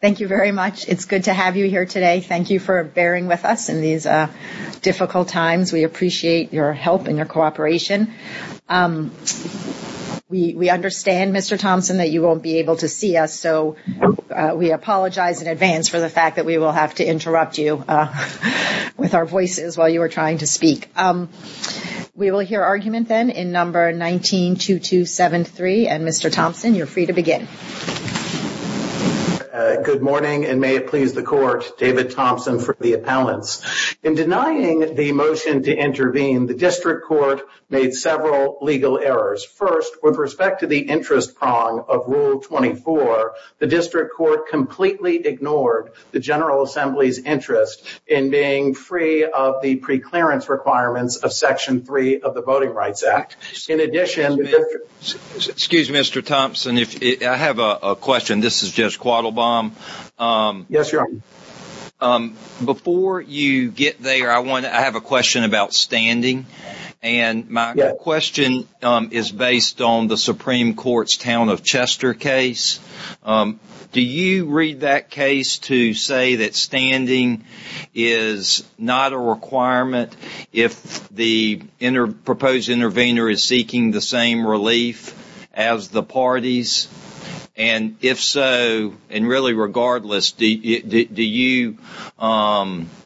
Thank you very much. It's good to have you here today. Thank you for bearing with us in these difficult times. We appreciate your help and your cooperation. We understand, Mr. Thompson, that you won't be able to see us, so we apologize in advance for the fact that we will have to interrupt you with our voices while you are trying to speak. We will hear argument then in No. 19-2273. And, Mr. Thompson, you're free to begin. Good morning, and may it please the Court, David Thompson for the appellants. In denying the motion to intervene, the District Court made several legal errors. First, with respect to the interest prong of Rule 24, the District Court completely ignored the General Assembly's interest in being free of the preclearance requirements of Section 3 of the Voting Rights Act. In addition… Excuse me, Mr. Thompson, I have a question. This is Judge Quattlebaum. Yes, Your Honor. Before you get there, I have a question about standing. And my question is based on the Supreme Court's Town of Chester case. Do you read that case to say that standing is not a requirement if the proposed intervener is seeking the same relief as the parties? And if so, and really regardless, do you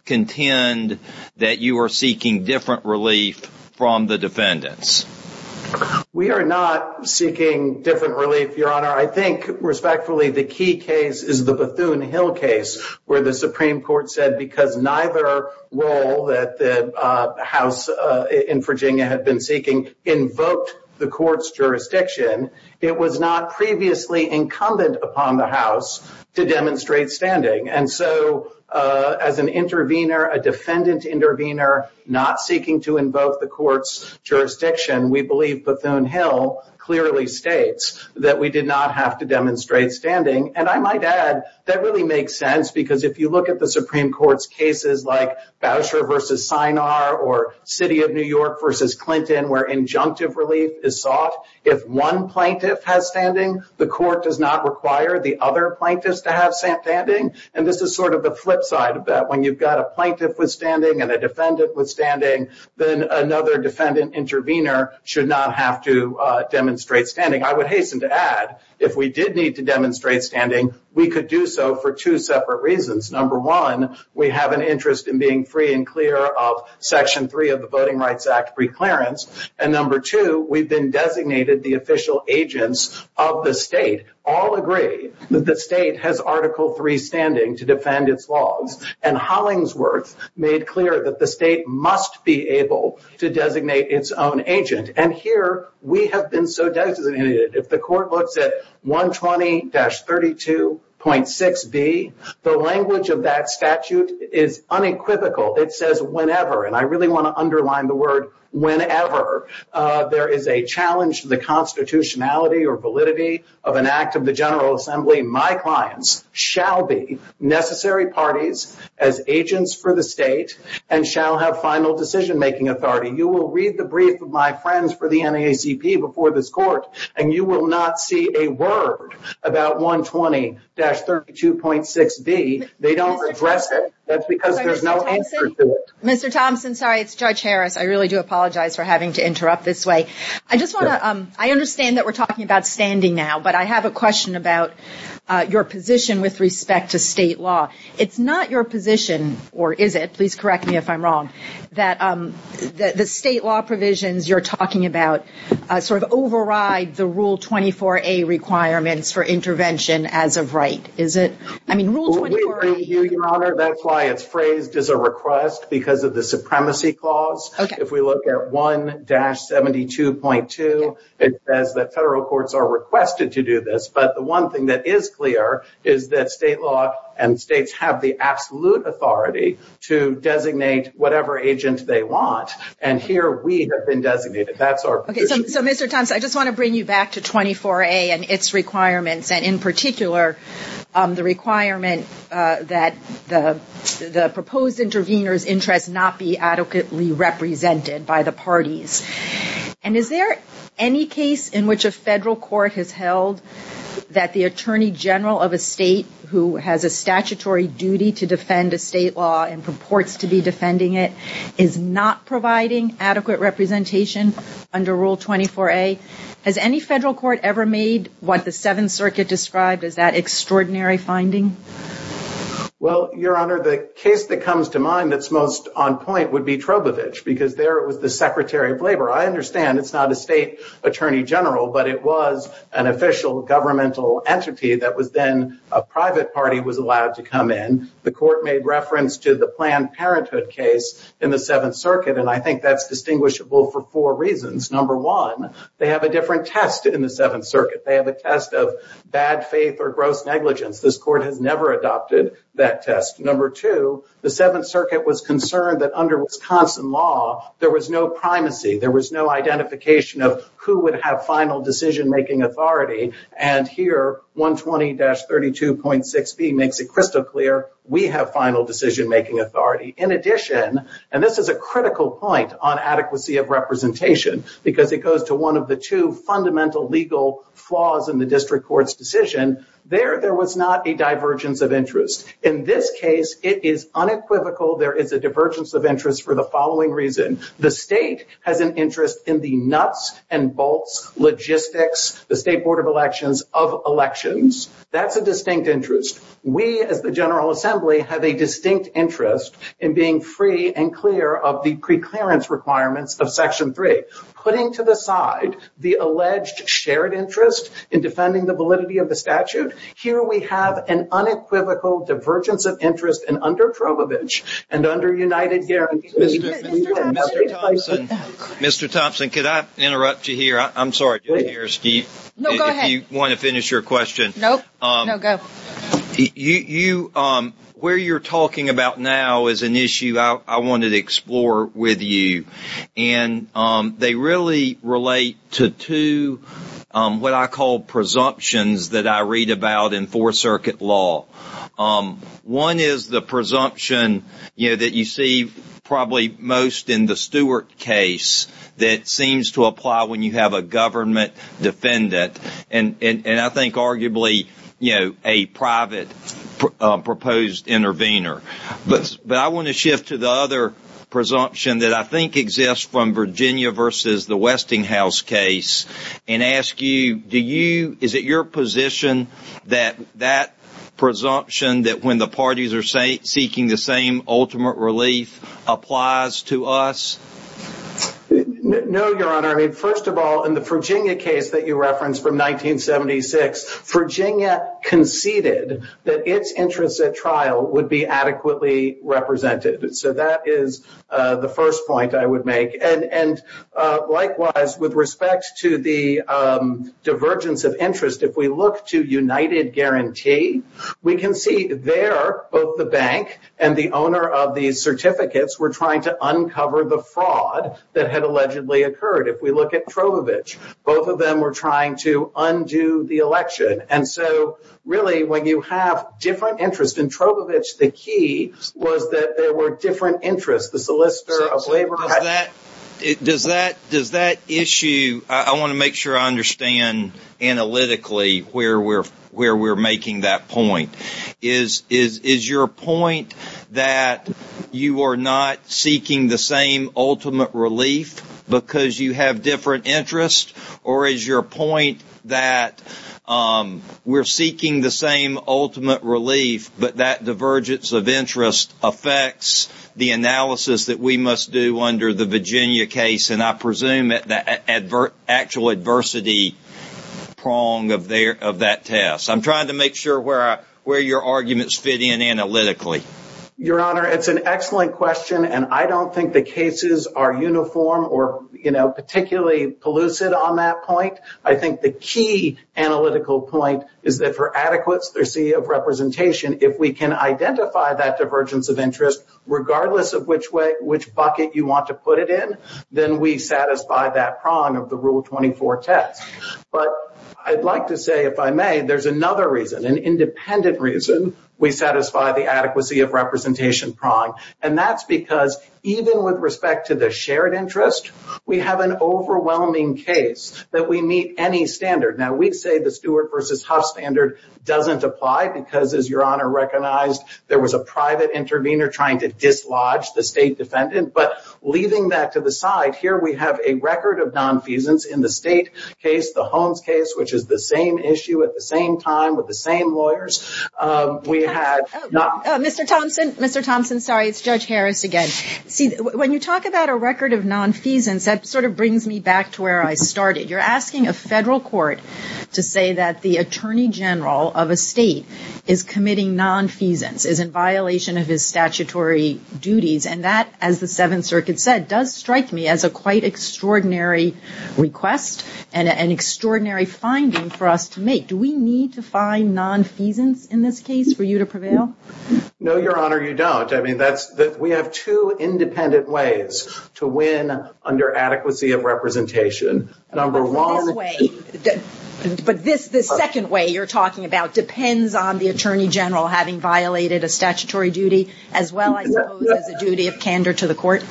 contend that you are seeking different relief from the defendants? We are not seeking different relief, Your Honor. I think, respectfully, the key case is the Bethune-Hill case, where the Supreme Court said because neither role that the House in Virginia had been seeking invoked the Court's jurisdiction, it was not previously incumbent upon the House to demonstrate standing. And so, as an intervener, a defendant intervener not seeking to invoke the Court's jurisdiction, we believe Bethune-Hill clearly states that we did not have to demonstrate standing. And I might add that really makes sense because if you look at the Supreme Court's cases like Bowser v. Sinar or City of New York v. Clinton, where injunctive relief is sought, if one plaintiff has standing, the Court does not require the other plaintiffs to have standing. And this is sort of the flip side of that. When you've got a plaintiff withstanding and a defendant withstanding, then another defendant intervener should not have to demonstrate standing. I would hasten to add, if we did need to demonstrate standing, we could do so for two separate reasons. Number one, we have an interest in being free and clear of Section 3 of the Voting Rights Act preclearance. And number two, we've been designated the official agents of the state. All agree that the state has Article 3 standing to defend its laws. And Hollingsworth made clear that the state must be able to designate its own agent. And here, we have been so designated. If the Court looks at 120-32.6b, the language of that statute is unequivocal. It says whenever, and I really want to underline the word whenever, there is a challenge to the constitutionality or validity of an act of the General Assembly, my clients shall be necessary parties as agents for the state and shall have final decision-making authority. You will read the brief of my friends for the NAACP before this Court, and you will not see a word about 120-32.6b. They don't address it. That's because there's no answer to it. Mr. Thompson, sorry, it's Judge Harris. I really do apologize for having to interrupt this way. I understand that we're talking about standing now, but I have a question about your position with respect to state law. It's not your position, or is it? Please correct me if I'm wrong, that the state law provisions you're talking about sort of override the Rule 24a requirements for intervention as of right. Is it? I mean, Rule 24a- We agree with you, Your Honor. That's why it's phrased as a request because of the supremacy clause. If we look at 1-72.2, it says that federal courts are requested to do this, but the one thing that is clear is that state law and states have the absolute authority to designate whatever agent they want, and here we have been designated. That's our position. Okay. So, Mr. Thompson, I just want to bring you back to 24a and its requirements, and in particular, the requirement that the proposed intervener's interests not be adequately represented by the parties. And is there any case in which a federal court has held that the attorney general of a state who has a statutory duty to defend a state law and purports to be defending it is not providing adequate representation under Rule 24a? Has any federal court ever made what the Seventh Circuit described as that extraordinary finding? Well, Your Honor, the case that comes to mind that's most on point would be Trobovich because there was the Secretary of Labor. I understand it's not a state attorney general, but it was an official governmental entity that was then a private party was allowed to come in. The court made reference to the Planned Parenthood case in the Seventh Circuit, and I think that's distinguishable for four reasons. Number one, they have a different test in the Seventh Circuit. They have a test of bad faith or gross negligence. This court has never adopted that test. Number two, the Seventh Circuit was concerned that under Wisconsin law, there was no primacy. There was no identification of who would have final decision-making authority. And here, 120-32.6b makes it crystal clear. We have final decision-making authority. In addition, and this is a critical point on adequacy of representation because it goes to one of the two fundamental legal flaws in the district court's decision. There, there was not a divergence of interest. In this case, it is unequivocal there is a divergence of interest for the following reason. The state has an interest in the nuts and bolts logistics, the State Board of Elections, of elections. That's a distinct interest. We, as the General Assembly, have a distinct interest in being free and clear of the preclearance requirements of Section 3. Putting to the side the alleged shared interest in defending the validity of the statute, here we have an unequivocal divergence of interest and under Trovavich and under United Guarantees. Mr. Thompson, could I interrupt you here? I'm sorry. Do you want to finish your question? Where you're talking about now is an issue I wanted to explore with you. And they really relate to two what I call presumptions that I read about in Fourth Circuit law. One is the presumption that you see probably most in the Stewart case that seems to apply when you have a government defendant. And I think arguably a private proposed intervener. But I want to shift to the other presumption that I think exists from Virginia versus the Westinghouse case and ask you, is it your position that that presumption that when the parties are seeking the same ultimate relief applies to us? No, Your Honor. First of all, in the Virginia case that you referenced from 1976, Virginia conceded that its interests at trial would be adequately represented. So that is the first point I would make. And likewise, with respect to the divergence of interest, if we look to United Guarantee, we can see there both the bank and the owner of the certificates were trying to uncover the fraud that had allegedly occurred. If we look at Trovavich, both of them were trying to undo the election. And so really when you have different interests in Trovavich, the key was that there were different interests. The solicitor of labor had— Does that issue—I want to make sure I understand analytically where we're making that point. Is your point that you are not seeking the same ultimate relief because you have different interests? Or is your point that we're seeking the same ultimate relief, but that divergence of interest affects the analysis that we must do under the Virginia case? And I presume that the actual adversity prong of that test. I'm trying to make sure where your arguments fit in analytically. Your Honor, it's an excellent question. And I don't think the cases are uniform or, you know, collusive on that point. I think the key analytical point is that for adequacy of representation, if we can identify that divergence of interest, regardless of which bucket you want to put it in, then we satisfy that prong of the Rule 24 test. But I'd like to say, if I may, there's another reason, an independent reason we satisfy the adequacy of representation prong. And that's because even with respect to the shared interest, we have an overwhelming case that we meet any standard. Now, we'd say the Stewart versus Huff standard doesn't apply because, as your Honor recognized, there was a private intervener trying to dislodge the state defendant. But leaving that to the side, here we have a record of nonfeasance in the state case, the Holmes case, which is the same issue at the same time with the same lawyers. We have not. Mr. Thompson, Mr. Thompson, sorry, it's Judge Harris again. See, when you talk about a record of nonfeasance, that sort of brings me back to where I started. You're asking a federal court to say that the Attorney General of a state is committing nonfeasance, is in violation of his statutory duties. And that, as the Seventh Circuit said, does strike me as a quite extraordinary request and an extraordinary finding for us to make. Do we need to find nonfeasance in this case for you to prevail? No, Your Honor, you don't. I mean, that's, we have two independent ways to win under adequacy of representation. Number one. But this, this second way you're talking about depends on the Attorney General having violated a statutory duty as well, I suppose, as a duty of candor to the court?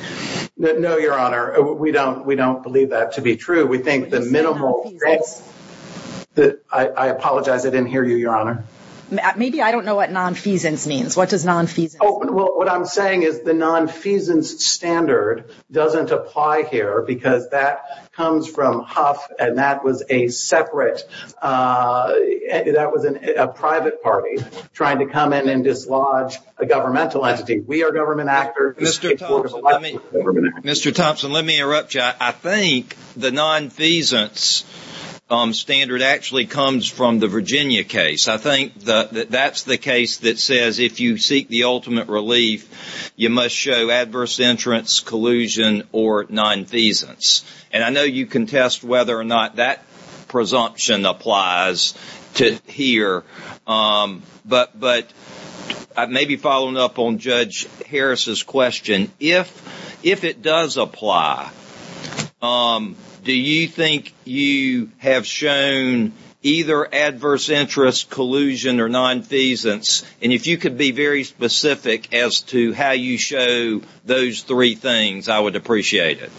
No, Your Honor, we don't, we don't believe that to be true. We think the minimal. I apologize, I didn't hear you, Your Honor. Maybe I don't know what nonfeasance means. What does nonfeasance mean? Oh, well, what I'm saying is the nonfeasance standard doesn't apply here because that comes from Huff and that was a separate, that was a private party trying to come in and dislodge a governmental entity. We are government actors. Mr. Thompson, let me, Mr. Thompson, let me interrupt you. I think the nonfeasance standard actually comes from the Virginia case. I think that that's the case that says if you seek the ultimate relief, you must show adverse entrance, collusion, or nonfeasance. And I know you contest whether or not that presumption applies to here. But, but I may be following up on Judge Harris's question. If, if it does apply, do you think you have shown either adverse interest, collusion, or nonfeasance? And if you could be very specific as to how you show those three things, I would appreciate it.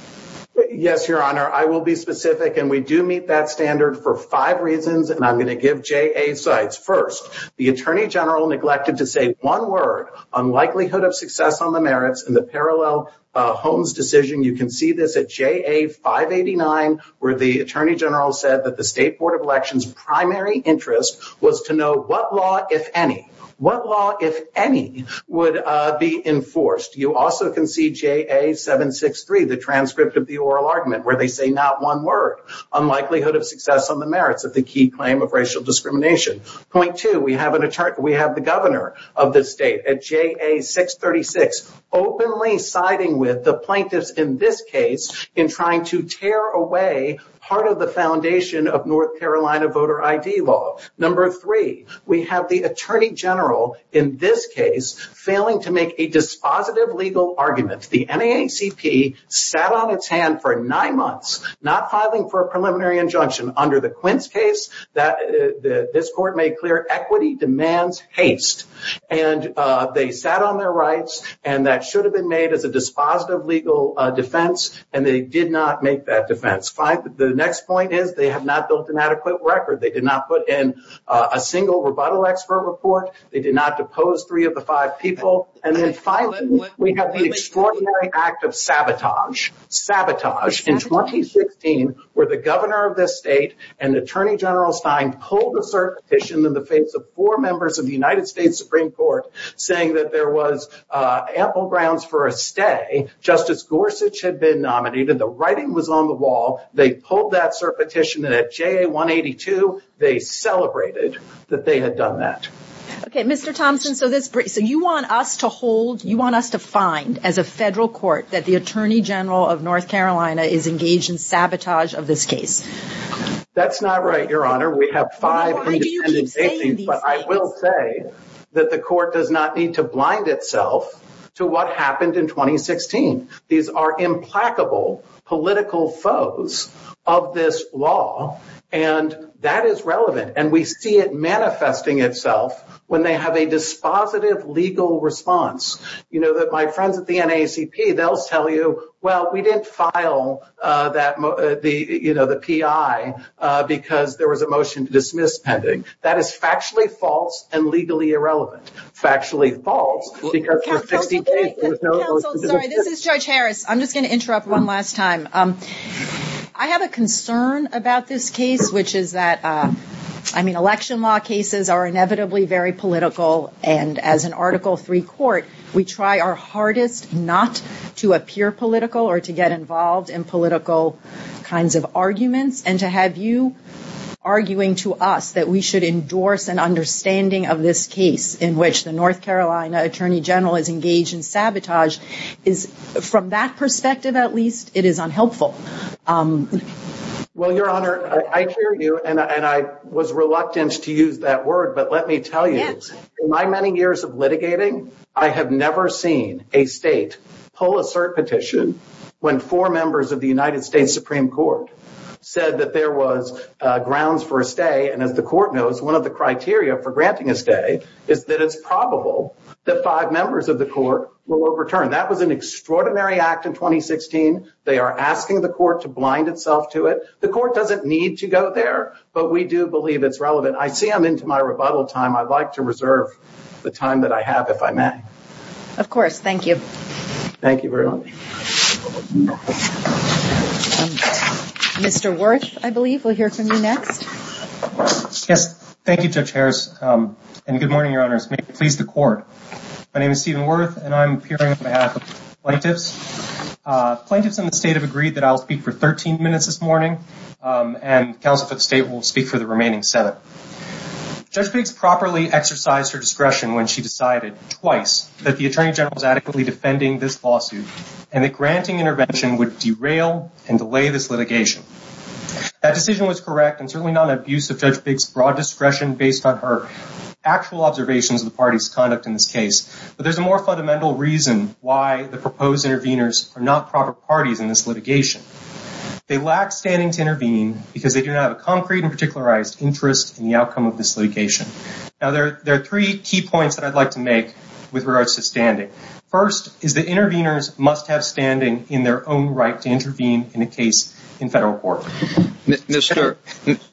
Yes, Your Honor, I will be specific. And we do meet that standard for five reasons. And I'm going to give JA sites. First, the Attorney General neglected to say one word on likelihood of success on the merits in the parallel Holmes decision. You can see this at JA 589, where the Attorney General said that the State Board of Elections' primary interest was to know what law, if any, what law, if any, would be enforced. You also can see JA 763, the transcript of the oral argument, where they say not one word on likelihood of success on the merits of the key claim of racial discrimination. Point two, we have the Governor of the state at JA 636 openly siding with the plaintiffs in this case in trying to tear away part of the foundation of North Carolina voter ID law. Number three, we have the Attorney General in this case failing to make a dispositive legal argument. The NAACP sat on its hand for nine months, not filing for a preliminary injunction. Under the Quintz case, this court made clear equity demands haste. And they sat on their rights. And that should have been made as a dispositive legal defense. And they did not make that defense. The next point is they have not built an adequate record. They did not put in a single rebuttal expert report. They did not depose three of the five people. And then finally, we have the extraordinary act of sabotage. Sabotage. In 2016, where the Governor of this state and Attorney General Stein pulled a cert petition in the face of four members of the United States Supreme Court saying that there was ample grounds for a stay, Justice Gorsuch had been nominated. The writing was on the wall. They pulled that cert petition. And at JA 182, they celebrated that they had done that. Okay, Mr. Thompson, so you want us to hold, you want us to find as a federal court that the Attorney General of North Carolina is engaged in sabotage of this case? That's not right, Your Honor. We have five independent agencies. But I will say that the court does not need to blind itself to what happened in 2016. These are implacable political foes of this law. And that is relevant. And we see it manifesting itself when they have a dispositive legal response. You know, my friends at the NAACP, they'll tell you, well, we didn't file the PI because there was a motion to dismiss pending. That is factually false and legally irrelevant. Factually false because we're fixing cases. This is Judge Harris. I'm just going to interrupt one last time. I have a concern about this case, which is that, I mean, election law cases are inevitably very political. And as an Article III court, we try our hardest not to appear political or to get involved in political kinds of arguments. And to have you arguing to us that we should endorse an sabotage is, from that perspective at least, it is unhelpful. Well, Your Honor, I hear you. And I was reluctant to use that word. But let me tell you, in my many years of litigating, I have never seen a state pull a cert petition when four members of the United States Supreme Court said that there was grounds for a stay. And as the court knows, one of the criteria for granting a stay is that it's probable that it will return. That was an extraordinary act in 2016. They are asking the court to blind itself to it. The court doesn't need to go there, but we do believe it's relevant. I see I'm into my rebuttal time. I'd like to reserve the time that I have, if I may. Of course. Thank you. Thank you very much. Mr. Wirth, I believe, we'll hear from you next. Yes. Thank you, Judge Harris. And good morning, Your Honors. May it please the court. My name is Stephen Wirth, and I'm appearing on behalf of plaintiffs. Plaintiffs in the state have agreed that I'll speak for 13 minutes this morning, and counsel for the state will speak for the remaining Senate. Judge Biggs properly exercised her discretion when she decided, twice, that the Attorney General was adequately defending this lawsuit, and that granting intervention would derail and delay this litigation. That decision was correct, and certainly not an abuse of Judge Biggs' broad discretion based on her actual observations of the party's conduct in this case. But there's a more fundamental reason why the proposed interveners are not proper parties in this litigation. They lack standing to intervene because they do not have a concrete and particularized interest in the outcome of this litigation. Now, there are three key points that I'd like to make with regards to standing. First is that interveners must have standing in their own right to intervene in a case in federal court.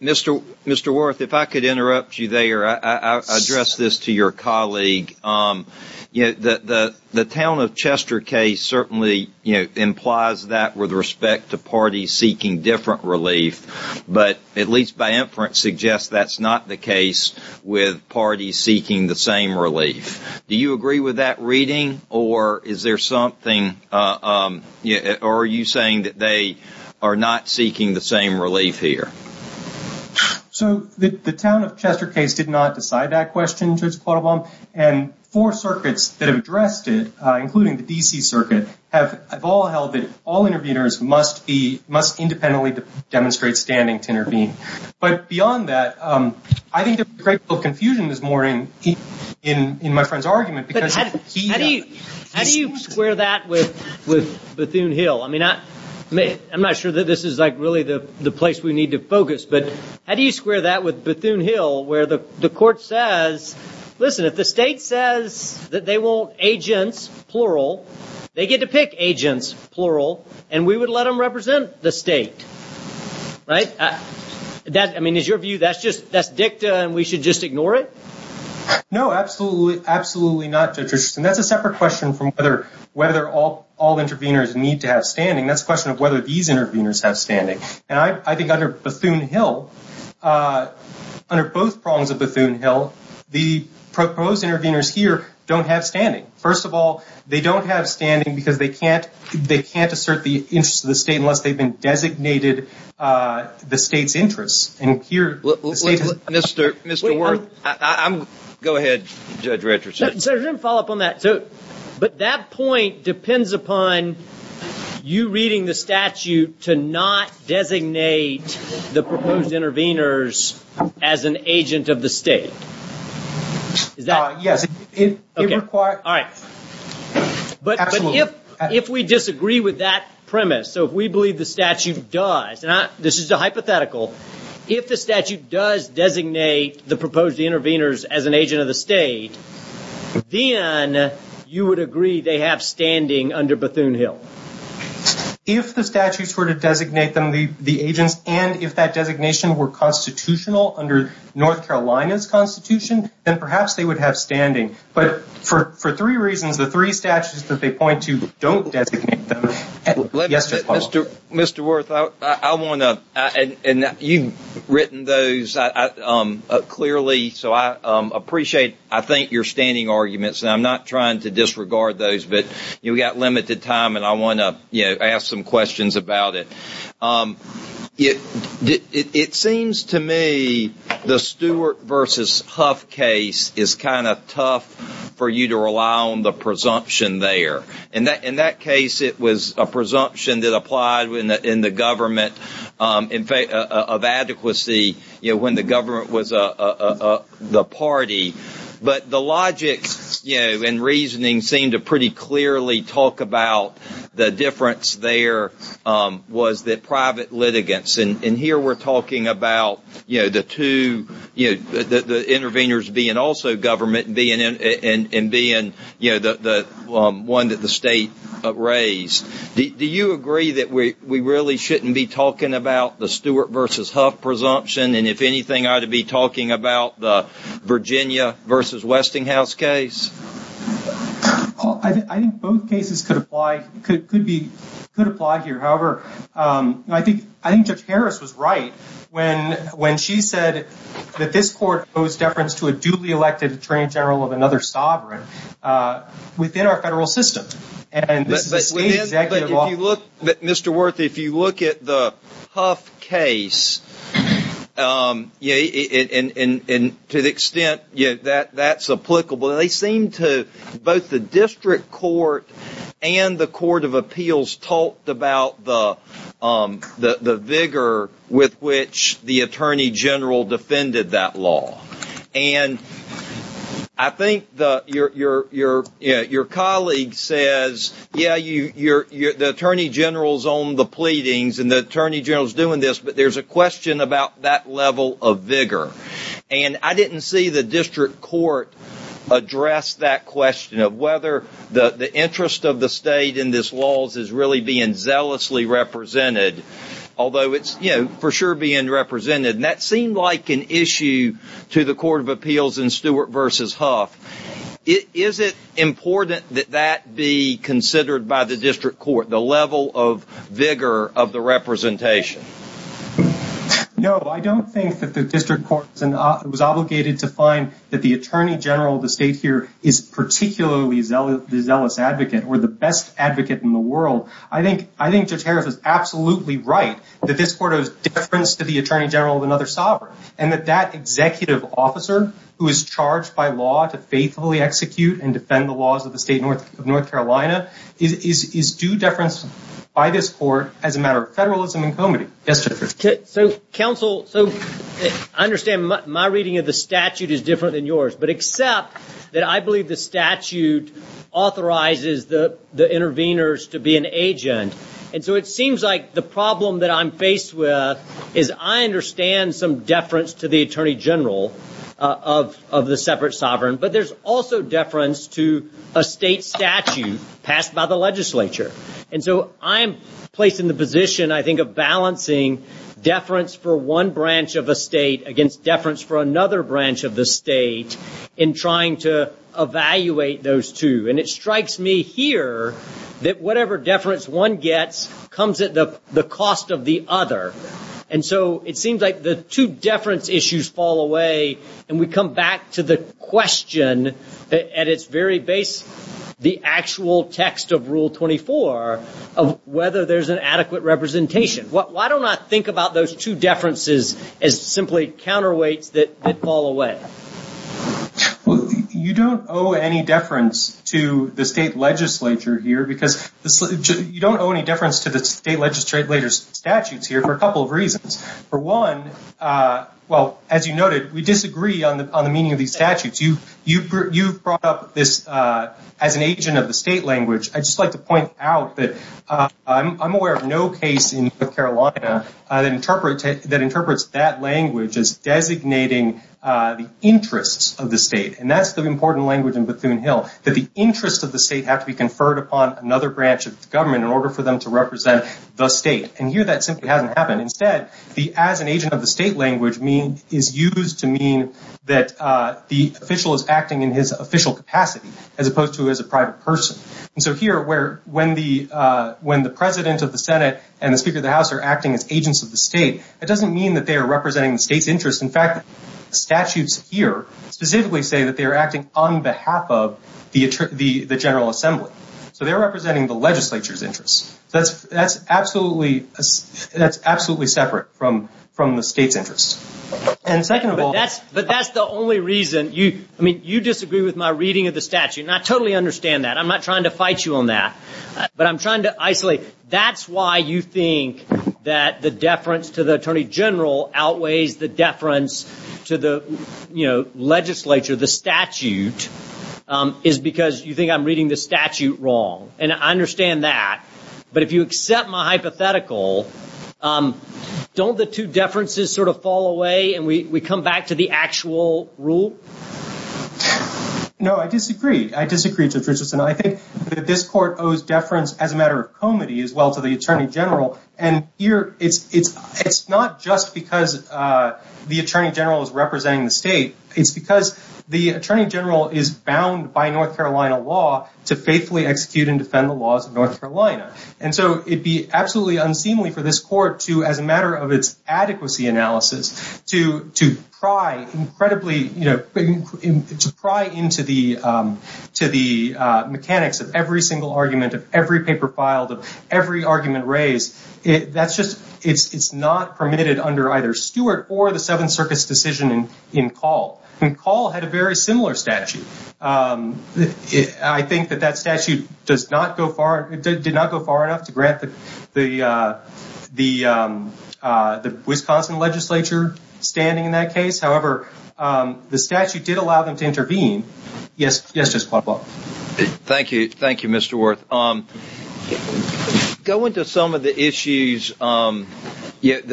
Mr. Wirth, if I could interrupt you there, I'll address this to your colleague. The Town of Chester case certainly implies that with respect to parties seeking different relief, but at least by inference suggests that's not the case with parties seeking the same relief. Do you agree with that reading, or are you saying that they are not seeking the same relief here? So, the Town of Chester case did not decide that question, Judge Quattlebaum, and four circuits that have addressed it, including the D.C. circuit, have all held that all interveners must independently demonstrate standing to intervene. But beyond that, I think there's a great deal of confusion this morning in my friend's argument. But how do you square that with Bethune Hill? I mean, I'm not sure that this is like the place we need to focus, but how do you square that with Bethune Hill where the court says, listen, if the state says that they want agents, plural, they get to pick agents, plural, and we would let them represent the state, right? I mean, is your view that's dicta and we should just ignore it? No, absolutely not, Judge Richardson. That's a separate question from whether all interveners need to have standing. That's a question of whether these interveners have standing. And I think under Bethune Hill, under both prongs of Bethune Hill, the proposed interveners here don't have standing. First of all, they don't have standing because they can't assert the interest of the state unless they've been designated the state's interest. And here, the state has... Mr. Worth, go ahead, Judge Richardson. So, to follow up on that, but that point depends upon you reading the statute to not designate the proposed interveners as an agent of the state. Is that... Yes, it requires... All right. But if we disagree with that premise, so if we believe the statute does, and this is a hypothetical, if the statute does designate the proposed interveners as an agent of the state, then you would agree they have standing under Bethune Hill? If the statutes were to designate them the agents, and if that designation were constitutional under North Carolina's constitution, then perhaps they would have standing. But for three reasons, the three statutes that they point to don't designate them... Mr. Worth, I want to... And you've written those clearly, so I appreciate, I think, your standing arguments, and I'm not trying to disregard those, but we've got limited time, and I want to ask some questions about it. It seems to me the Stewart versus Huff case is kind of tough for you to rely on the presumption there. In that case, it was a presumption that applied in the government of adequacy when the government was the party. But the difference there was that private litigants, and here we're talking about the interveners being also government and being the one that the state raised. Do you agree that we really shouldn't be talking about the Stewart versus Huff presumption, and if anything, I ought to be talking about the Virginia versus Westinghouse case? I think both cases could apply here. However, I think Judge Harris was right when she said that this court owes deference to a duly elected attorney general of another sovereign within our federal system, and this is a state executive office... Both the district court and the court of appeals talked about the vigor with which the attorney general defended that law, and I think your colleague says, yeah, the attorney general's on the pleadings and the attorney general's doing this, but there's a question about that question of whether the interest of the state in these laws is really being zealously represented, although it's for sure being represented, and that seemed like an issue to the court of appeals in Stewart versus Huff. Is it important that that be considered by the district court, the level of vigor of the representation? No, I don't think that the district court was obligated to find that the attorney general of the state here is particularly the zealous advocate or the best advocate in the world. I think Judge Harris is absolutely right that this court owes deference to the attorney general of another sovereign, and that that executive officer who is charged by law to faithfully execute and defend the laws of the state of North Carolina is due deference by this court as a matter of federalism and comity. Yes, Judge Harris. Counsel, I understand my reading of the statute is different than yours, but except that I believe the statute authorizes the interveners to be an agent, and so it seems like the problem that I'm faced with is I understand some deference to the attorney general of the separate sovereign, but there's also deference to a state statute passed by the deference for one branch of a state against deference for another branch of the state in trying to evaluate those two. And it strikes me here that whatever deference one gets comes at the cost of the other. And so it seems like the two deference issues fall away, and we come back to the question at its very base, the actual text of Rule 24 of whether there's an adequate representation. Why don't I think about those two deferences as simply counterweights that fall away? Well, you don't owe any deference to the state legislature here because you don't owe any deference to the state legislature's statutes here for a couple of reasons. For one, well, as you noted, we disagree on the meaning of these statutes. You've brought up this as an agent of the state language. I'd just like to point out that I'm aware of no case in North Carolina that interprets that language as designating the interests of the state. And that's the important language in Bethune Hill, that the interests of the state have to be conferred upon another branch of the government in order for them to represent the state. And here that simply hasn't happened. Instead, the as an agent of the state language is used to mean that the official is acting in his private person. And so here, when the President of the Senate and the Speaker of the House are acting as agents of the state, it doesn't mean that they are representing the state's interests. In fact, statutes here specifically say that they are acting on behalf of the General Assembly. So they're representing the legislature's interests. That's absolutely separate from the state's interests. But that's the only reason. I mean, you disagree with my reading of the I'm not trying to fight you on that, but I'm trying to isolate. That's why you think that the deference to the Attorney General outweighs the deference to the legislature. The statute is because you think I'm reading the statute wrong. And I understand that. But if you accept my hypothetical, don't the two differences sort of fall away and we come back to the actual rule? No, I disagree. I disagree, Judge Richardson. I think that this court owes deference as a matter of comity as well to the Attorney General. And here, it's not just because the Attorney General is representing the state. It's because the Attorney General is bound by North Carolina law to faithfully execute and defend the laws of North Carolina. And so it'd be absolutely unseemly for this court to, as a matter of its adequacy analysis, to pry incredibly into the mechanics of every single argument, of every paper filed, of every argument raised. It's not permitted under either Stewart or the Seventh Circuit's decision in Call. And Call had a very similar statute. I think that that statute did not go far enough to grant the Wisconsin legislature standing in that case. However, the statute did allow them to intervene. Yes, Justice Quattlebott. Thank you. Thank you, Mr. Worth. Going to some of the issues, I don't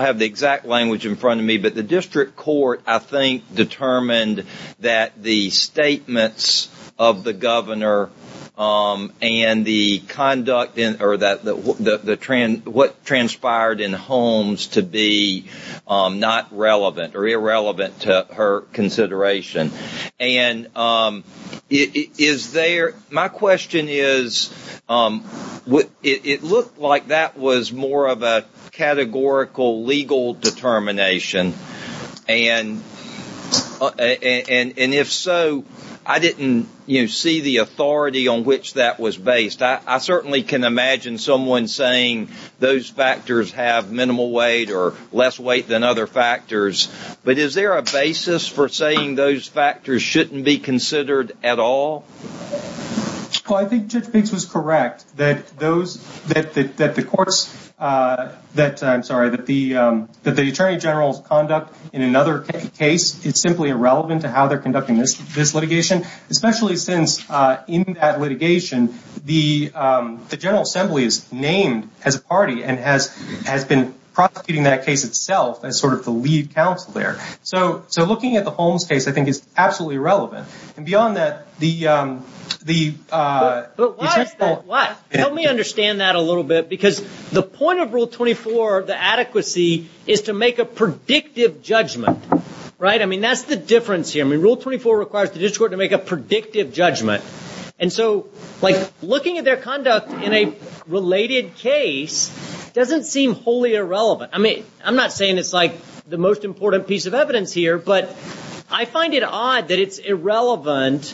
have the exact language in front of me, but the district court, I think, determined that the statements of the governor and the conduct or what transpired in Holmes to be not relevant or irrelevant to her consideration. And my question is, it looked like that was more of a categorical legal determination. And if so, I didn't see the authority on which that was based. I certainly can imagine someone saying those factors have minimal weight or less weight than other factors. But is there a basis for saying those factors shouldn't be considered at all? Well, I think Judge Biggs was correct that the attorney general's conduct in another case is simply irrelevant to how they're conducting this litigation, especially since in that litigation, the General Assembly is named as a party and has been prosecuting that case itself as sort of the lead counsel there. So looking at the Holmes case, I think, is absolutely irrelevant. And beyond that, the... But why is that? Why? Help me understand that a little bit, because the point of Rule 24, the adequacy, is to make a predictive judgment, right? I mean, that's the difference here. I mean, Rule 24 requires the district court to make a predictive judgment. And so like looking at their conduct in a related case doesn't seem wholly irrelevant. I mean, I'm not saying it's like the most important piece of evidence here, but I find it odd that it's irrelevant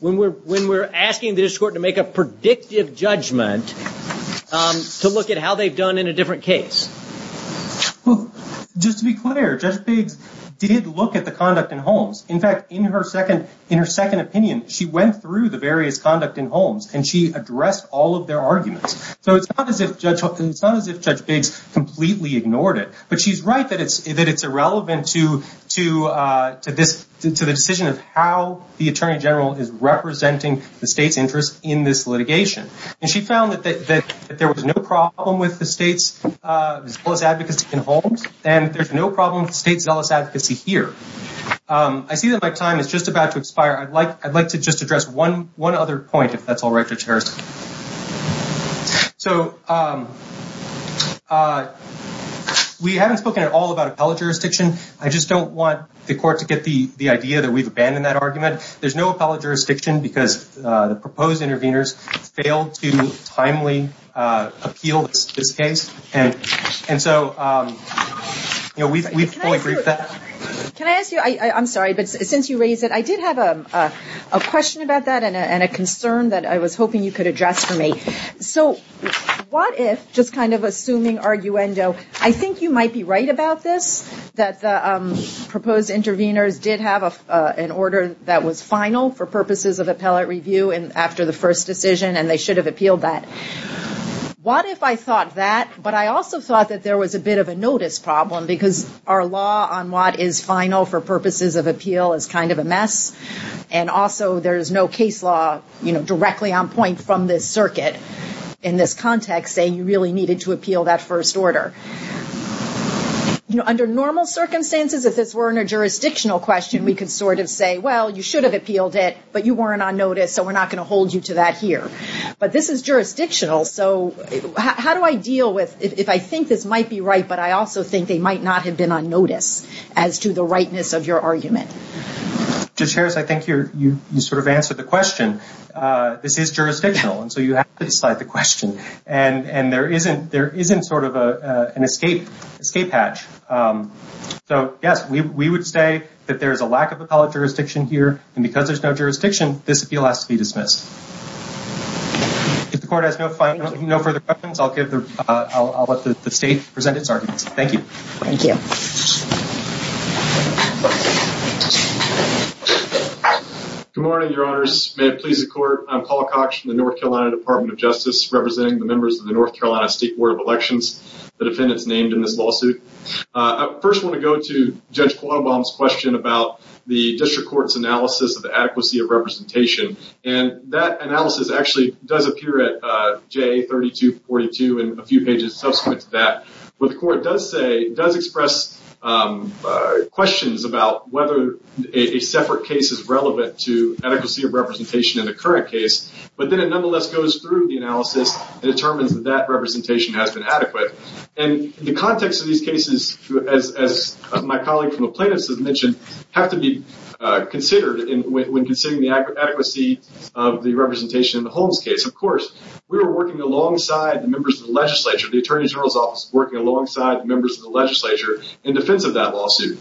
when we're asking the district court to make a predictive judgment to look at how they've done in a different case. Well, just to be clear, Judge Biggs did look at the conduct in Holmes. In fact, in her second opinion, she went through the various conduct in Holmes and she addressed all of their arguments. So it's not as if Judge Biggs completely ignored it, but she's right that it's irrelevant to the decision of how the attorney general is representing the state's interest in this litigation. And she found that there was no problem with the state's zealous advocacy in Holmes, and there's no problem with the state's zealous advocacy here. I see that my time is just about to expire. I'd like to just address one other point, if that's all right, Judge Harrison. So we haven't spoken at all about appellate jurisdiction. I just don't want the court to get the idea that we've abandoned that argument. There's no appellate jurisdiction because the proposed interveners failed to timely appeal this case. And so we fully agree with that. Can I ask you, I'm sorry, but since you raised it, I did have a question about that and a concern that I was hoping you could address for me. So what if, just kind of assuming arguendo, I think you might be right about this, that the proposed interveners did have an order that was final for purposes of appellate review and after the first decision, and they should have appealed that. What if I thought that, but I also thought that there was a bit of a notice problem because our law on what is final for purposes of appeal is kind of a mess. And also there is no case law directly on point from this circuit in this context saying you really needed to appeal that first order. Under normal circumstances, if this weren't a jurisdictional question, we could sort of say, well, you should have appealed it, but you weren't on notice. So we're not going to hold you to that here. But this is jurisdictional. So how do I deal with, if I think this might be right, but I also think they might not have been on notice as to the rightness of your argument? Judge Harris, I think you sort of answered the question. This is jurisdictional. And so you have to decide the question. And there isn't sort of an escape hatch. So yes, we would say that there is a lack of appellate jurisdiction here. And because there's no jurisdiction, this appeal has to be dismissed. If the court has no further questions, I'll let the state present its arguments. Thank you. Thank you. Good morning, your honors. May it please the court. I'm Paul Cox from the North Carolina Department of Justice, representing the members of the North Carolina State Board of Elections, the defendants named in this lawsuit. I first want to go to Judge Quammenbaum's question about the district court's analysis of the adequacy of representation. And that analysis actually does appear at JA-3242 and a few pages subsequent to that. What the court does say, does express questions about whether a separate case is relevant to adequacy of representation in the current case. But then it nonetheless goes through the analysis and determines that that representation has been adequate. And the context of these cases, as my colleague from the plaintiffs has mentioned, have to be considered when considering the adequacy of the representation in the Holmes case. Of course, we were working alongside the members of the legislature, the attorney general's office, working alongside the members of the legislature in defense of that lawsuit.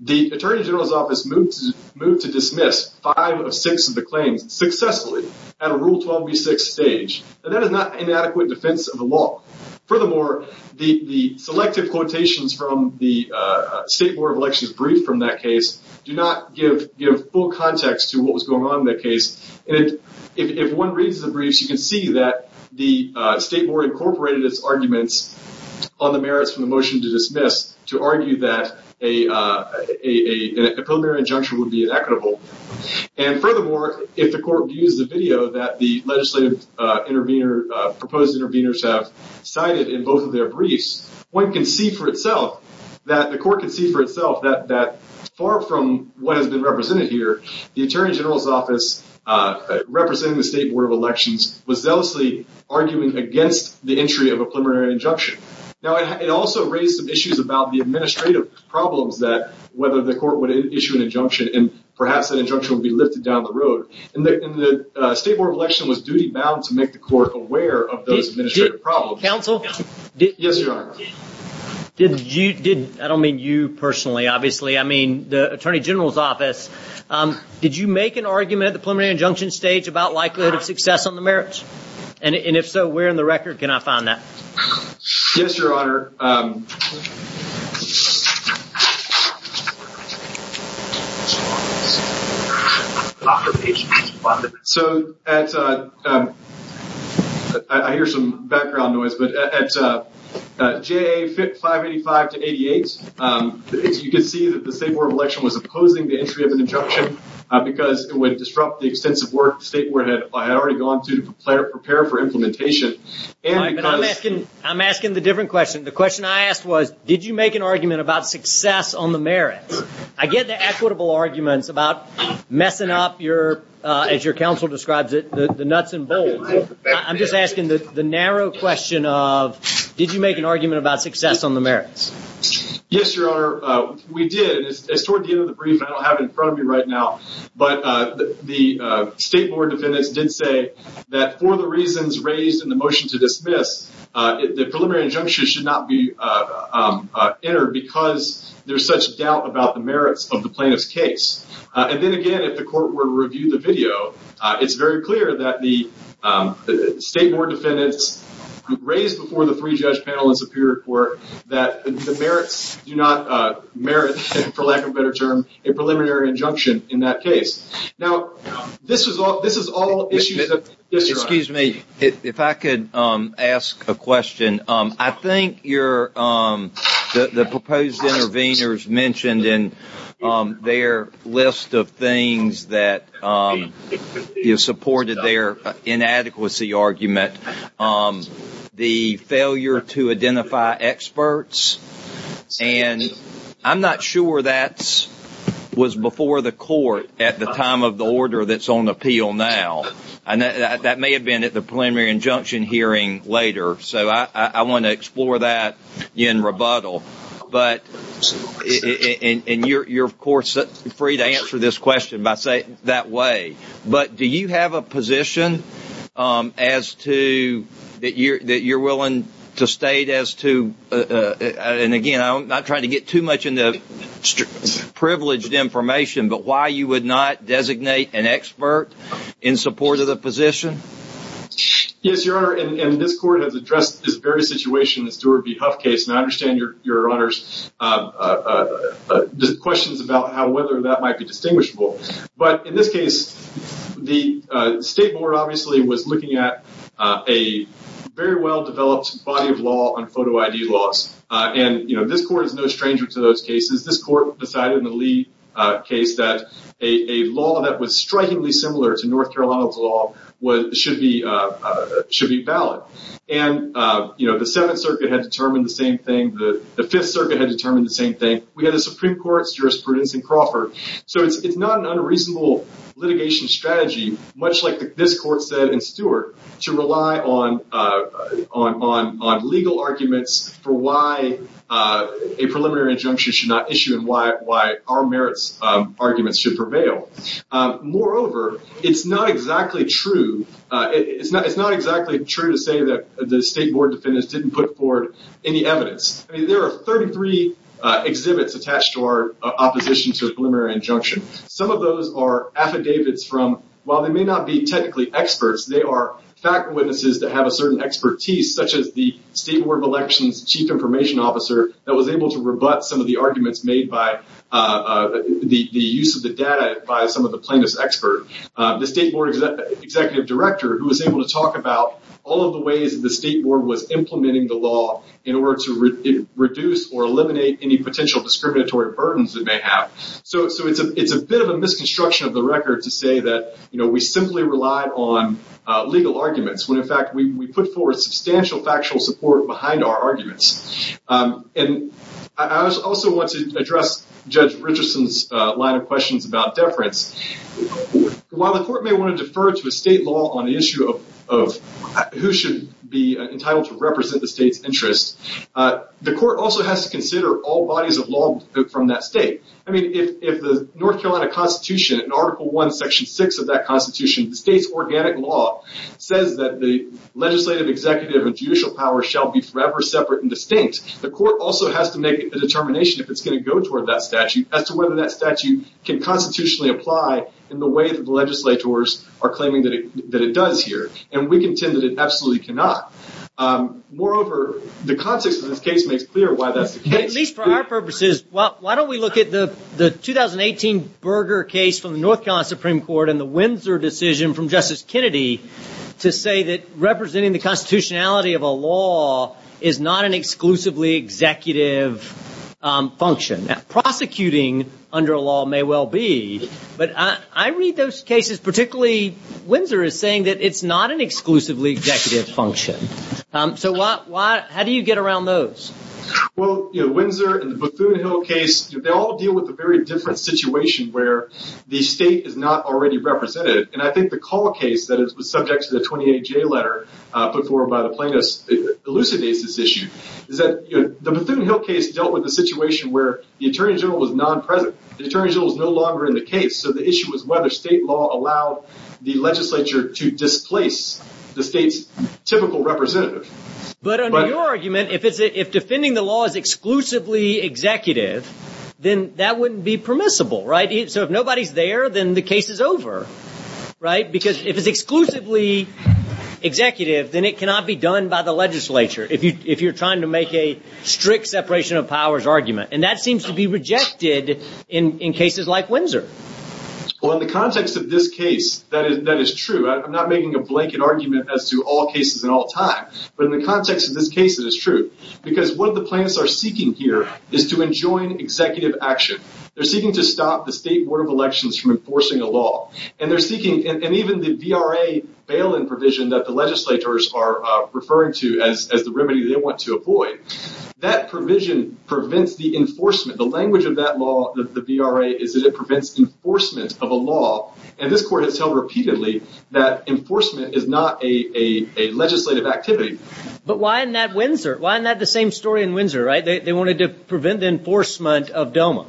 The attorney general's office moved to dismiss five of six of the claims successfully at a Rule 12b6 stage. And that is not an adequate defense of the law. Furthermore, the selective quotations from the State Board of Elections brief from that case do not give full context to what was going on in that case. And if one reads the briefs, you can see that the state board incorporated its arguments on the merits from the motion to dismiss to argue that a preliminary injunction would be inequitable. And furthermore, if the court views the video that the legislative intervener, proposed interveners have cited in both of their briefs, one can see for itself that the court can see for itself that far from what has been represented here, the attorney general's office representing the State Board of Elections was zealously arguing against the entry of a preliminary injunction. Now, it also raised some issues about the administrative problems that whether the court would issue an injunction and perhaps an injunction would be lifted down the road. And the State Board of Elections was duty bound to make the court aware of those administrative problems. Counsel? Yes, Your Honor. Did you, did, I don't mean you personally, obviously, I mean the attorney general's office, did you make an argument at the preliminary injunction stage about likelihood of success on the merits? And if so, where in the record can I find that? Yes, Your Honor. So, at, I hear some background noise, but at J.A. 585-88, you can see that the State Board of Elections was opposing the entry of an injunction because it would disrupt the extensive work the State Board had already gone through to prepare for implementation. I'm asking the different questions. The question I asked was, did you make an argument about success on the merits? I get the equitable arguments about messing up your, as your counsel describes it, the nuts and bolts. I'm just asking the narrow question of, did you make an argument about success on the merits? Yes, Your Honor. We did. It's toward the end of the brief and I don't have it in front of me right now. But the State Board of Defendants did say that for the reasons raised in the motion to enter, because there's such doubt about the merits of the plaintiff's case. And then again, if the court were to review the video, it's very clear that the State Board Defendants raised before the three-judge panel in Superior Court that the merits do not merit, for lack of a better term, a preliminary injunction in that case. Now, this is all, this is all issues Excuse me, if I could ask a question. I think your, the proposed intervenors mentioned in their list of things that supported their inadequacy argument, the failure to identify experts. And I'm not sure that was before the court at the time of the order that's on appeal now. And that may have been at the preliminary injunction hearing later. So I want to explore that in rebuttal. But, and you're of course free to answer this question by saying that way. But do you have a position as to, that you're willing to state as to, and again, I'm not trying to get too much into privileged information, but why you would not designate an expert in support of the position? Yes, Your Honor, and this court has addressed this very situation, the Steward v. Huff case. And I understand Your Honor's questions about how, whether that might be distinguishable. But in this case, the State Board obviously was looking at a very well-developed body of on photo ID laws. And this court is no stranger to those cases. This court decided in the Lee case that a law that was strikingly similar to North Carolina's law should be valid. And the Seventh Circuit had determined the same thing. The Fifth Circuit had determined the same thing. We had a Supreme Court jurisprudence in Crawford. So it's not an unreasonable litigation strategy, much like this court said in Steward, to rely on legal arguments for why a preliminary injunction should not issue and why our merits arguments should prevail. Moreover, it's not exactly true to say that the State Board defendants didn't put forward any evidence. I mean, there are 33 exhibits attached to our opposition to a preliminary injunction. Some of those are technically experts. They are fact witnesses that have a certain expertise, such as the State Board of Elections Chief Information Officer that was able to rebut some of the arguments made by the use of the data by some of the plaintiffs' experts. The State Board Executive Director, who was able to talk about all of the ways that the State Board was implementing the law in order to reduce or eliminate any potential discriminatory burdens it may have. So it's a bit of a misconstruction of the record to say that, you know, we simply relied on legal arguments when, in fact, we put forward substantial factual support behind our arguments. And I also want to address Judge Richardson's line of questions about deference. While the court may want to defer to a state law on the issue of who should be entitled to represent the state's interests, the court also has to consider all bodies of law from that state. I mean, if the North Carolina Constitution, in Article I, Section 6 of that Constitution, the state's organic law says that the legislative executive and judicial power shall be forever separate and distinct, the court also has to make a determination if it's going to go toward that statute as to whether that statute can constitutionally apply in the way that the legislators are claiming that it does here. And we contend that it absolutely cannot. Moreover, the context of this case makes clear why that's the case. At least for our purposes, why don't we look at the 2018 Berger case from the North Carolina Supreme Court and the Windsor decision from Justice Kennedy to say that representing the constitutionality of a law is not an exclusively executive function. Prosecuting under a law may well be, but I read those cases, particularly Windsor, as saying that it's not an exclusively executive function. So how do you get around those? Well, Windsor and the Bethune Hill case, they all deal with a very different situation where the state is not already represented. And I think the Call case that was subject to the 28-J letter put forward by the plaintiffs elucidates this issue. The Bethune Hill case dealt with a situation where the Attorney General was non-present. The Attorney General was no longer in the case. So the issue was whether state law allowed the legislature to displace the state's typical representative. But under your argument, if defending the law is exclusively executive, then that wouldn't be permissible. So if nobody's there, then the case is over. Because if it's exclusively executive, then it cannot be done by the legislature if you're trying to make a strict separation of powers argument. And that seems to be rejected in cases like Windsor. Well, in the context of this case, that is true. I'm not making a blanket argument as to all cases in all time. But in the context of this case, it is true. Because what the plaintiffs are seeking here is to enjoin executive action. They're seeking to stop the State Board of Elections from enforcing a law. And they're seeking, and even the VRA bail-in provision that the legislators are referring to as the remedy they want to avoid, that provision prevents the enforcement. The language of that law, the VRA, is that it prevents enforcement of a law. And this court has held repeatedly that why isn't that the same story in Windsor, right? They wanted to prevent the enforcement of DOMA.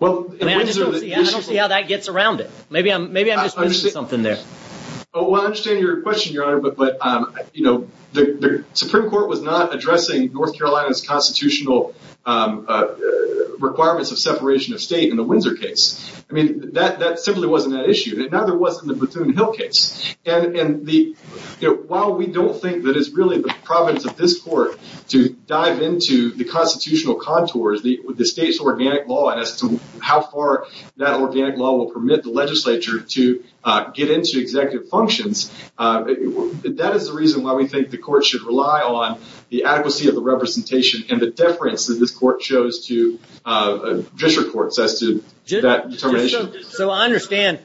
I don't see how that gets around it. Maybe I'm just missing something there. Well, I understand your question, Your Honor. But the Supreme Court was not addressing North Carolina's constitutional requirements of separation of state in the Windsor case. I mean, that simply wasn't that issue. And it neither was in the Platoon Hill case. And while we don't think that it's really the province of this court to dive into the constitutional contours, the state's organic law, and as to how far that organic law will permit the legislature to get into executive functions, that is the reason why we think the court should rely on the adequacy of the representation and the deference that this court shows to district courts as to that determination. So I understand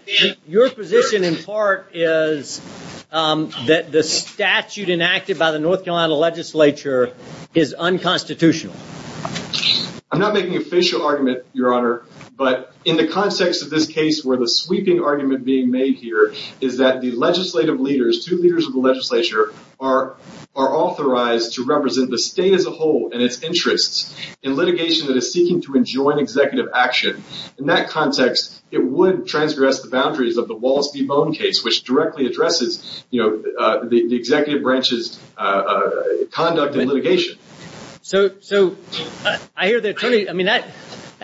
your position in part is that the statute enacted by the North Carolina legislature is unconstitutional. I'm not making an official argument, Your Honor. But in the context of this case, where the sweeping argument being made here is that the legislative leaders, two leaders of the legislature, are authorized to represent the state as a whole and its interests in litigation that is seeking to enjoin executive action, in that context, it would transgress the boundaries of the Wallace v. Bone case, which directly addresses, you know, the executive branch's conduct in litigation. So I hear the attorney, I mean, that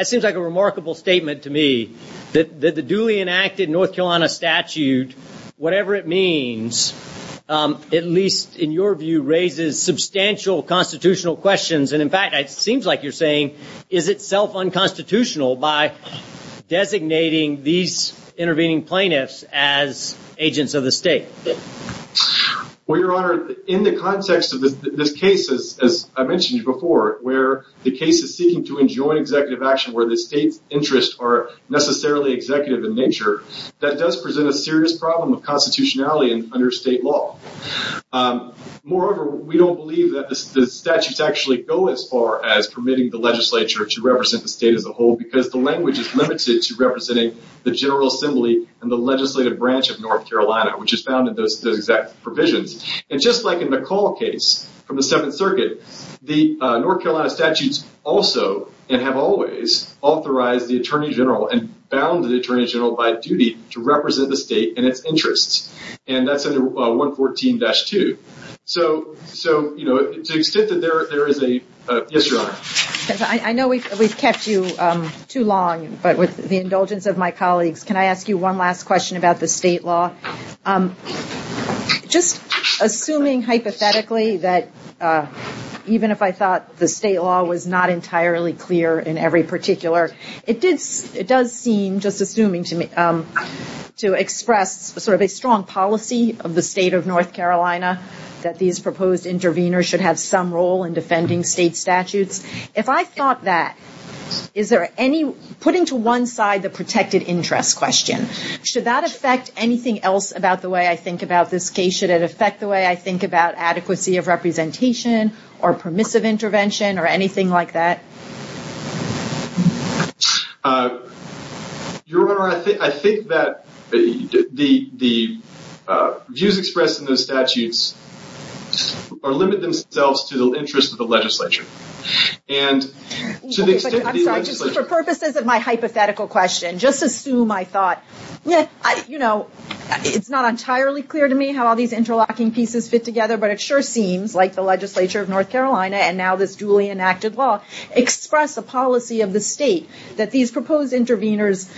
seems like a remarkable statement to me, that the duly enacted North Carolina statute, whatever it means, at least in your view, raises substantial constitutional questions. And in fact, it seems like you're saying, is itself unconstitutional by designating these intervening plaintiffs as agents of the state. Well, Your Honor, in the context of this case, as I mentioned before, where the case is seeking to enjoin executive action where the state's interests are necessarily executive in nature, that does present a serious problem of constitutionality under state law. Moreover, we don't believe that the statutes actually go as far as permitting the legislature to represent the state as a whole, because the language is limited to representing the General Assembly and the legislative branch of North Carolina, which is found in those exact provisions. And just like in the McCall case from the Seventh Circuit, the North Carolina statutes also and have always authorized the attorney general and bound the attorney general by duty to represent the state. So to the extent that there is a... Yes, Your Honor. I know we've kept you too long, but with the indulgence of my colleagues, can I ask you one last question about the state law? Just assuming hypothetically that even if I thought the state law was not entirely clear in every particular, it does seem, just assuming to me, to express sort of a strong policy of the state of North Carolina, that these proposed interveners should have some role in defending state statutes. If I thought that, is there any... Putting to one side the protected interest question, should that affect anything else about the way I think about this case? Should it affect the way I think about adequacy of representation or permissive intervention or anything like that? Your Honor, I think that the views expressed in those statutes are limited themselves to the interest of the legislature. And to the extent that the legislature... I'm sorry, just for purposes of my hypothetical question, just assume I thought... It's not entirely clear to me how all these interlocking pieces fit together, but it sure seems like the legislature of North Carolina and now this duly enacted law express a policy of the state that these proposed interveners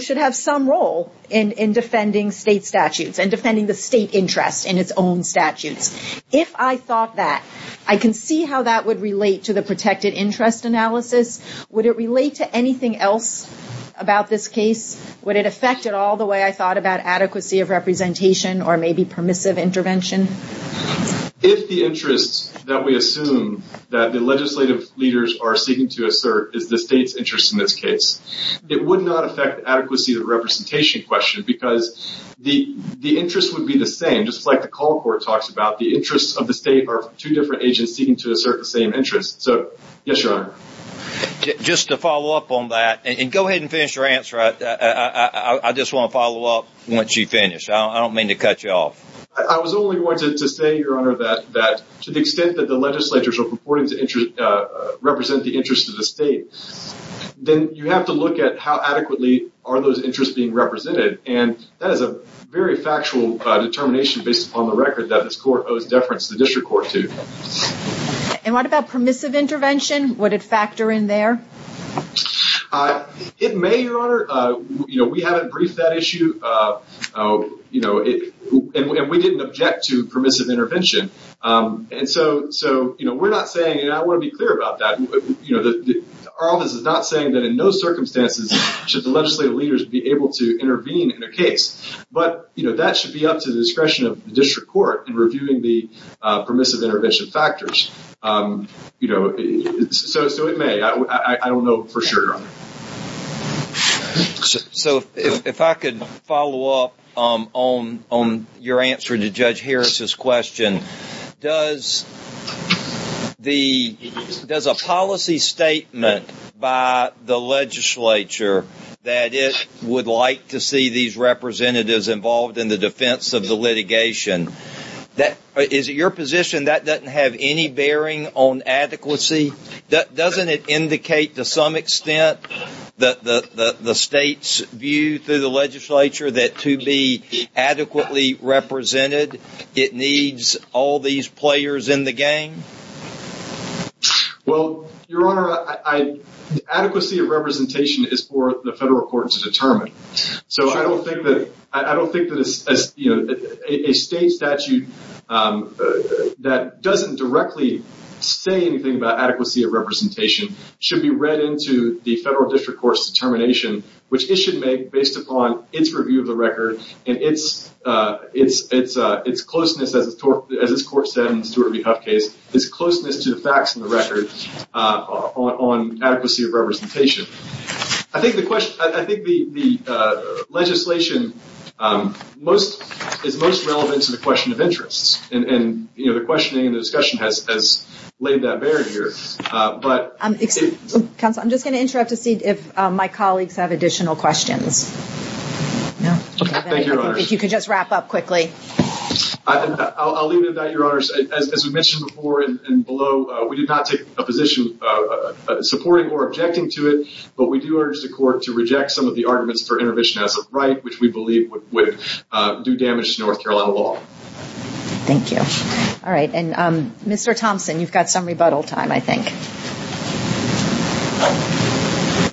should have some role in defending state statutes and defending the state interest in its own statutes. If I thought that, I can see how that would relate to the protected interest analysis. Would it relate to anything else about this case? Would it affect it all the way I thought about adequacy of representation or maybe permissive intervention? If the interests that we assume that the legislative leaders are seeking to assert is the state's interest in this case, it would not affect the adequacy of representation question because the interest would be the same. Just like the call court talks about, the interests of the state are two different agents seeking to assert the same interest. So yes, Your Honor. Just to follow up on that and go ahead and finish your answer, I just want to follow up once you finish. I don't mean to cut you off. I was only going to say, Your Honor, that to the extent that the legislatures are purporting to represent the interest of the state, then you have to look at how adequately are those interests being represented. And that is a very factual determination based upon the record that this court owes deference to the district court to. And what about permissive intervention? Would it factor in there? It may, Your Honor. We haven't briefed that issue and we didn't object to permissive intervention. And so we're not saying, and I want to be clear about that, our office is not saying that in no circumstances should the legislative leaders be able to intervene in a case. But that should be up to the discretion of the district court in reviewing the permissive intervention factors. So it may. I don't know for sure, Your Honor. So if I could follow up on your answer to Judge Harris's question, does a policy statement by the legislature that it would like to see these representatives involved in the defense of the litigation, is it your position that doesn't have any bearing on adequacy? Doesn't it indicate to some extent that the state's view through the legislature that to be adequately represented, it needs all these players in the game? Well, Your Honor, adequacy of representation is for the federal court to determine. So I don't think that a state statute that doesn't directly say anything about adequacy of representation should be read into the federal district court's determination, which it should make based upon its review of the record and its closeness, as this court said in the Stuart v. Huff case, its closeness to the facts in the record on adequacy of representation. I think the legislation is most relevant to the question of interests. And the questioning and the discussion has laid that barrier here. Counsel, I'm just going to interrupt to see if my colleagues have additional questions. If you could just wrap up quickly. I'll leave it at that, Your Honor. As we mentioned before and below, we did not take a position supporting or objecting to it, but we do urge the court to reject some of the arguments for intervention as of right, which we believe would do damage to North Carolina law. Thank you. All right. And Mr. Thompson, you've got some rebuttal time, I think.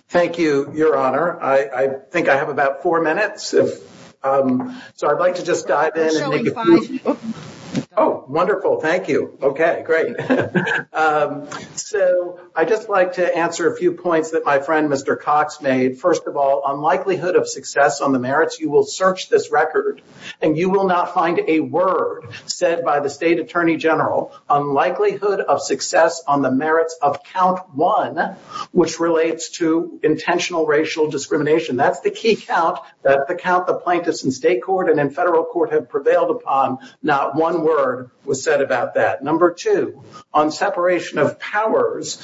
Thank you, Your Honor. I think I have about four minutes. So I'd like to just dive in. Oh, wonderful. Thank you. Okay, great. So I'd just like to answer a few points that my friend, Mr. Cox, made. First of all, on likelihood of success on the merits, you will search this record and you will not find a word said by the state attorney general on likelihood of success on the merits of count one, which relates to intentional racial discrimination. That's the key count that the count the plaintiffs in state court and in federal court have prevailed upon. Not one word was said about that. Number two, on separation of powers,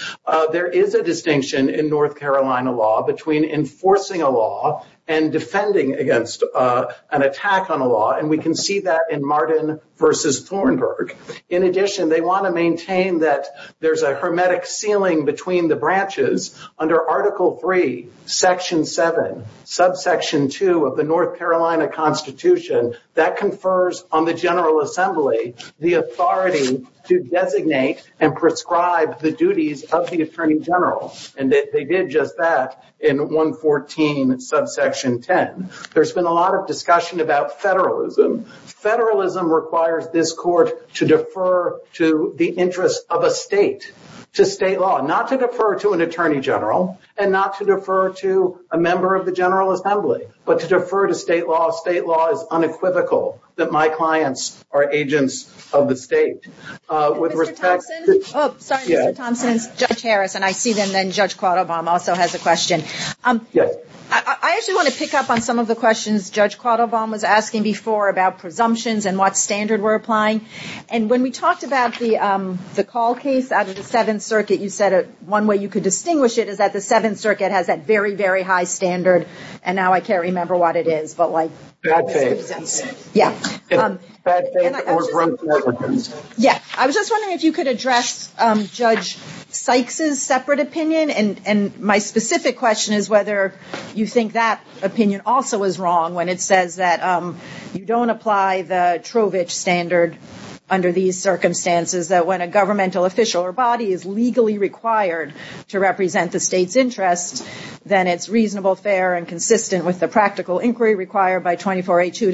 there is a distinction in North Carolina law between enforcing a law and defending against an attack on a law. And we can see that in Martin versus Thornburg. In addition, they want to maintain that there's a hermetic ceiling between the branches under article three, section seven, subsection two of the North Carolina constitution that confers on the attorney general. And they did just that in 114 subsection 10. There's been a lot of discussion about federalism. Federalism requires this court to defer to the interest of a state, to state law, not to defer to an attorney general and not to defer to a member of the general assembly, but to defer to state law. State law is unequivocal that my clients are agents of the state. With respect to- Mr. Thompson? Sorry, Mr. Thompson, it's Judge Harris. And I see that then Judge Quadobaum also has a question. I actually want to pick up on some of the questions Judge Quadobaum was asking before about presumptions and what standard we're applying. And when we talked about the call case out of the Seventh Circuit, you said one way you could distinguish it is that the Seventh Circuit has that very, very high standard. And now I can't remember what it is, but like- Bad faith. Yeah. I was just wondering if you could address Judge Sykes' separate opinion. And my specific question is whether you think that opinion also is wrong when it says that you don't apply the Trovich standard under these circumstances, that when a governmental official or body is legally required to represent the state's interest, then it's reasonable, fair, and consistent with the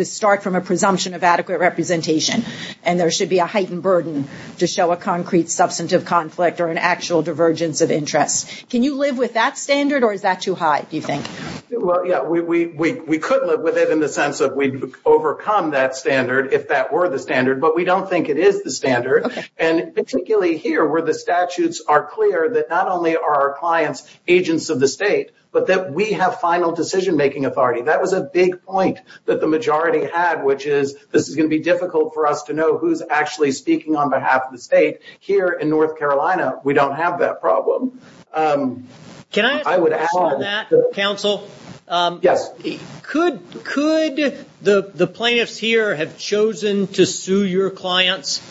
start from a presumption of adequate representation. And there should be a heightened burden to show a concrete substantive conflict or an actual divergence of interest. Can you live with that standard or is that too high, do you think? Well, yeah. We could live with it in the sense that we'd overcome that standard if that were the standard, but we don't think it is the standard. And particularly here where the statutes are clear that not only are our clients agents of the state, but that we have final decision-making authority. That was a big point that the had, which is this is going to be difficult for us to know who's actually speaking on behalf of the state. Here in North Carolina, we don't have that problem. Can I ask a question on that, counsel? Yes. Could the plaintiffs here have chosen to sue your clients?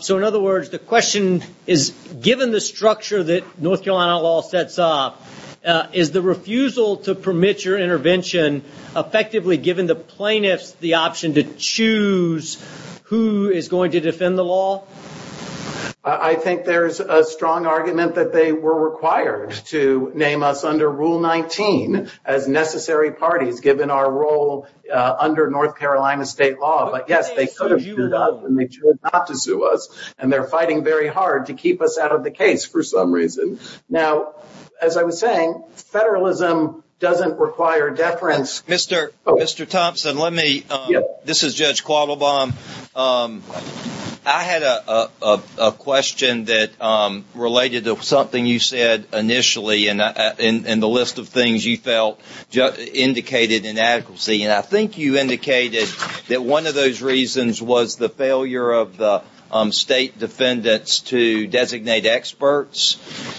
So in other words, the question is, given the structure that North Carolina law sets up, is the refusal to permit your intervention effectively given the plaintiffs the option to choose who is going to defend the law? I think there's a strong argument that they were required to name us under Rule 19 as necessary parties given our role under North Carolina state law. But yes, they could have sued us and they chose not to sue us. And they're fighting very hard to keep us out of the case for some reason. Now, as I was saying, federalism doesn't require deference. Mr. Thompson, this is Judge Quattlebaum. I had a question that related to something you said initially in the list of things you felt indicated inadequacy. And I think you indicated that one of those reasons was the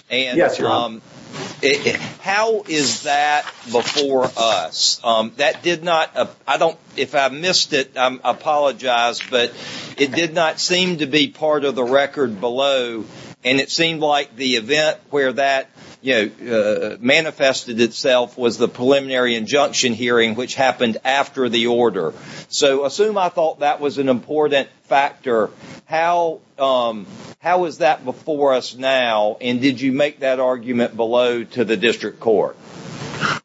Yes, sir. And how is that before us? That did not, I don't, if I missed it, I apologize, but it did not seem to be part of the record below. And it seemed like the event where that, you know, manifested itself was the preliminary injunction hearing, which happened after the order. So assume I thought that was an important factor. How was that before us now? And did you make that argument below to the district court?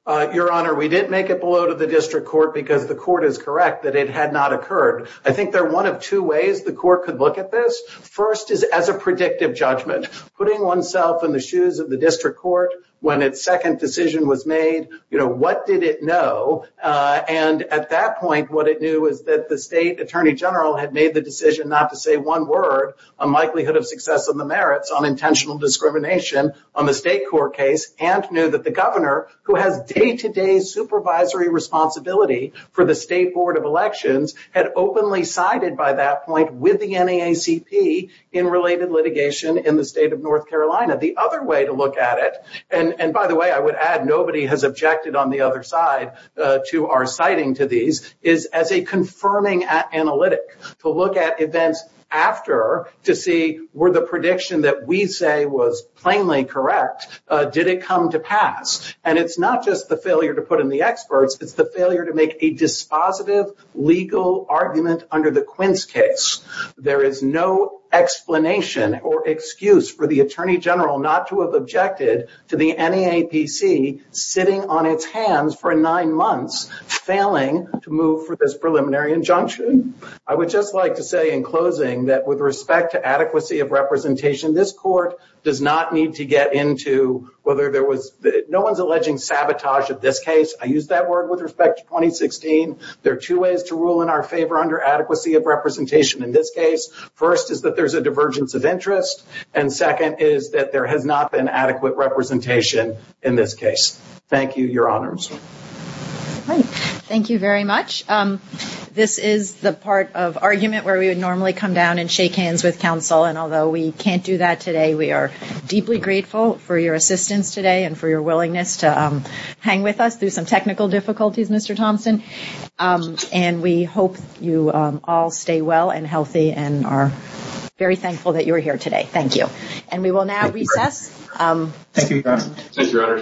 Your Honor, we didn't make it below to the district court because the court is correct that it had not occurred. I think there are one of two ways the court could look at this. First is as a predictive judgment, putting oneself in the shoes of the district court when its second decision was made, you know, what did it know? And at that point, what it knew is that the state attorney general had made the decision not to say one word on likelihood of success and the merits on intentional discrimination on the state court case and knew that the governor, who has day-to-day supervisory responsibility for the State Board of Elections, had openly sided by that point with the NAACP in related litigation in the state of North Carolina. The other way to look at it, and by the way, I would add nobody has objected on the other side to our citing to these, is as a confirming analytic, to look at events after to see were the prediction that we say was plainly correct, did it come to pass? And it's not just the failure to put in the experts, it's the failure to make a dispositive legal argument under the Quince case. There is no explanation or excuse for the attorney general not to have objected to the NAACP sitting on its hands for nine months, failing to move for this preliminary injunction. I would just like to say in closing that with respect to adequacy of representation, this court does not need to get into whether there was, no one's alleging sabotage of this case. I used that word with respect to 2016. There are two ways to rule in our favor under adequacy of representation in this case. First is that there's a divergence of interest, and second is that there has not been adequate representation in this case. Thank you, your honors. Thank you very much. This is the part of argument where we would normally come down and shake hands with counsel, and although we can't do that today, we are deeply grateful for your assistance today and for your willingness to hang with us through some technical difficulties, Mr. Thompson, and we hope you all stay well and healthy and are very thankful that you're here today. Thank you. And we will now recess. Thank you, your honor.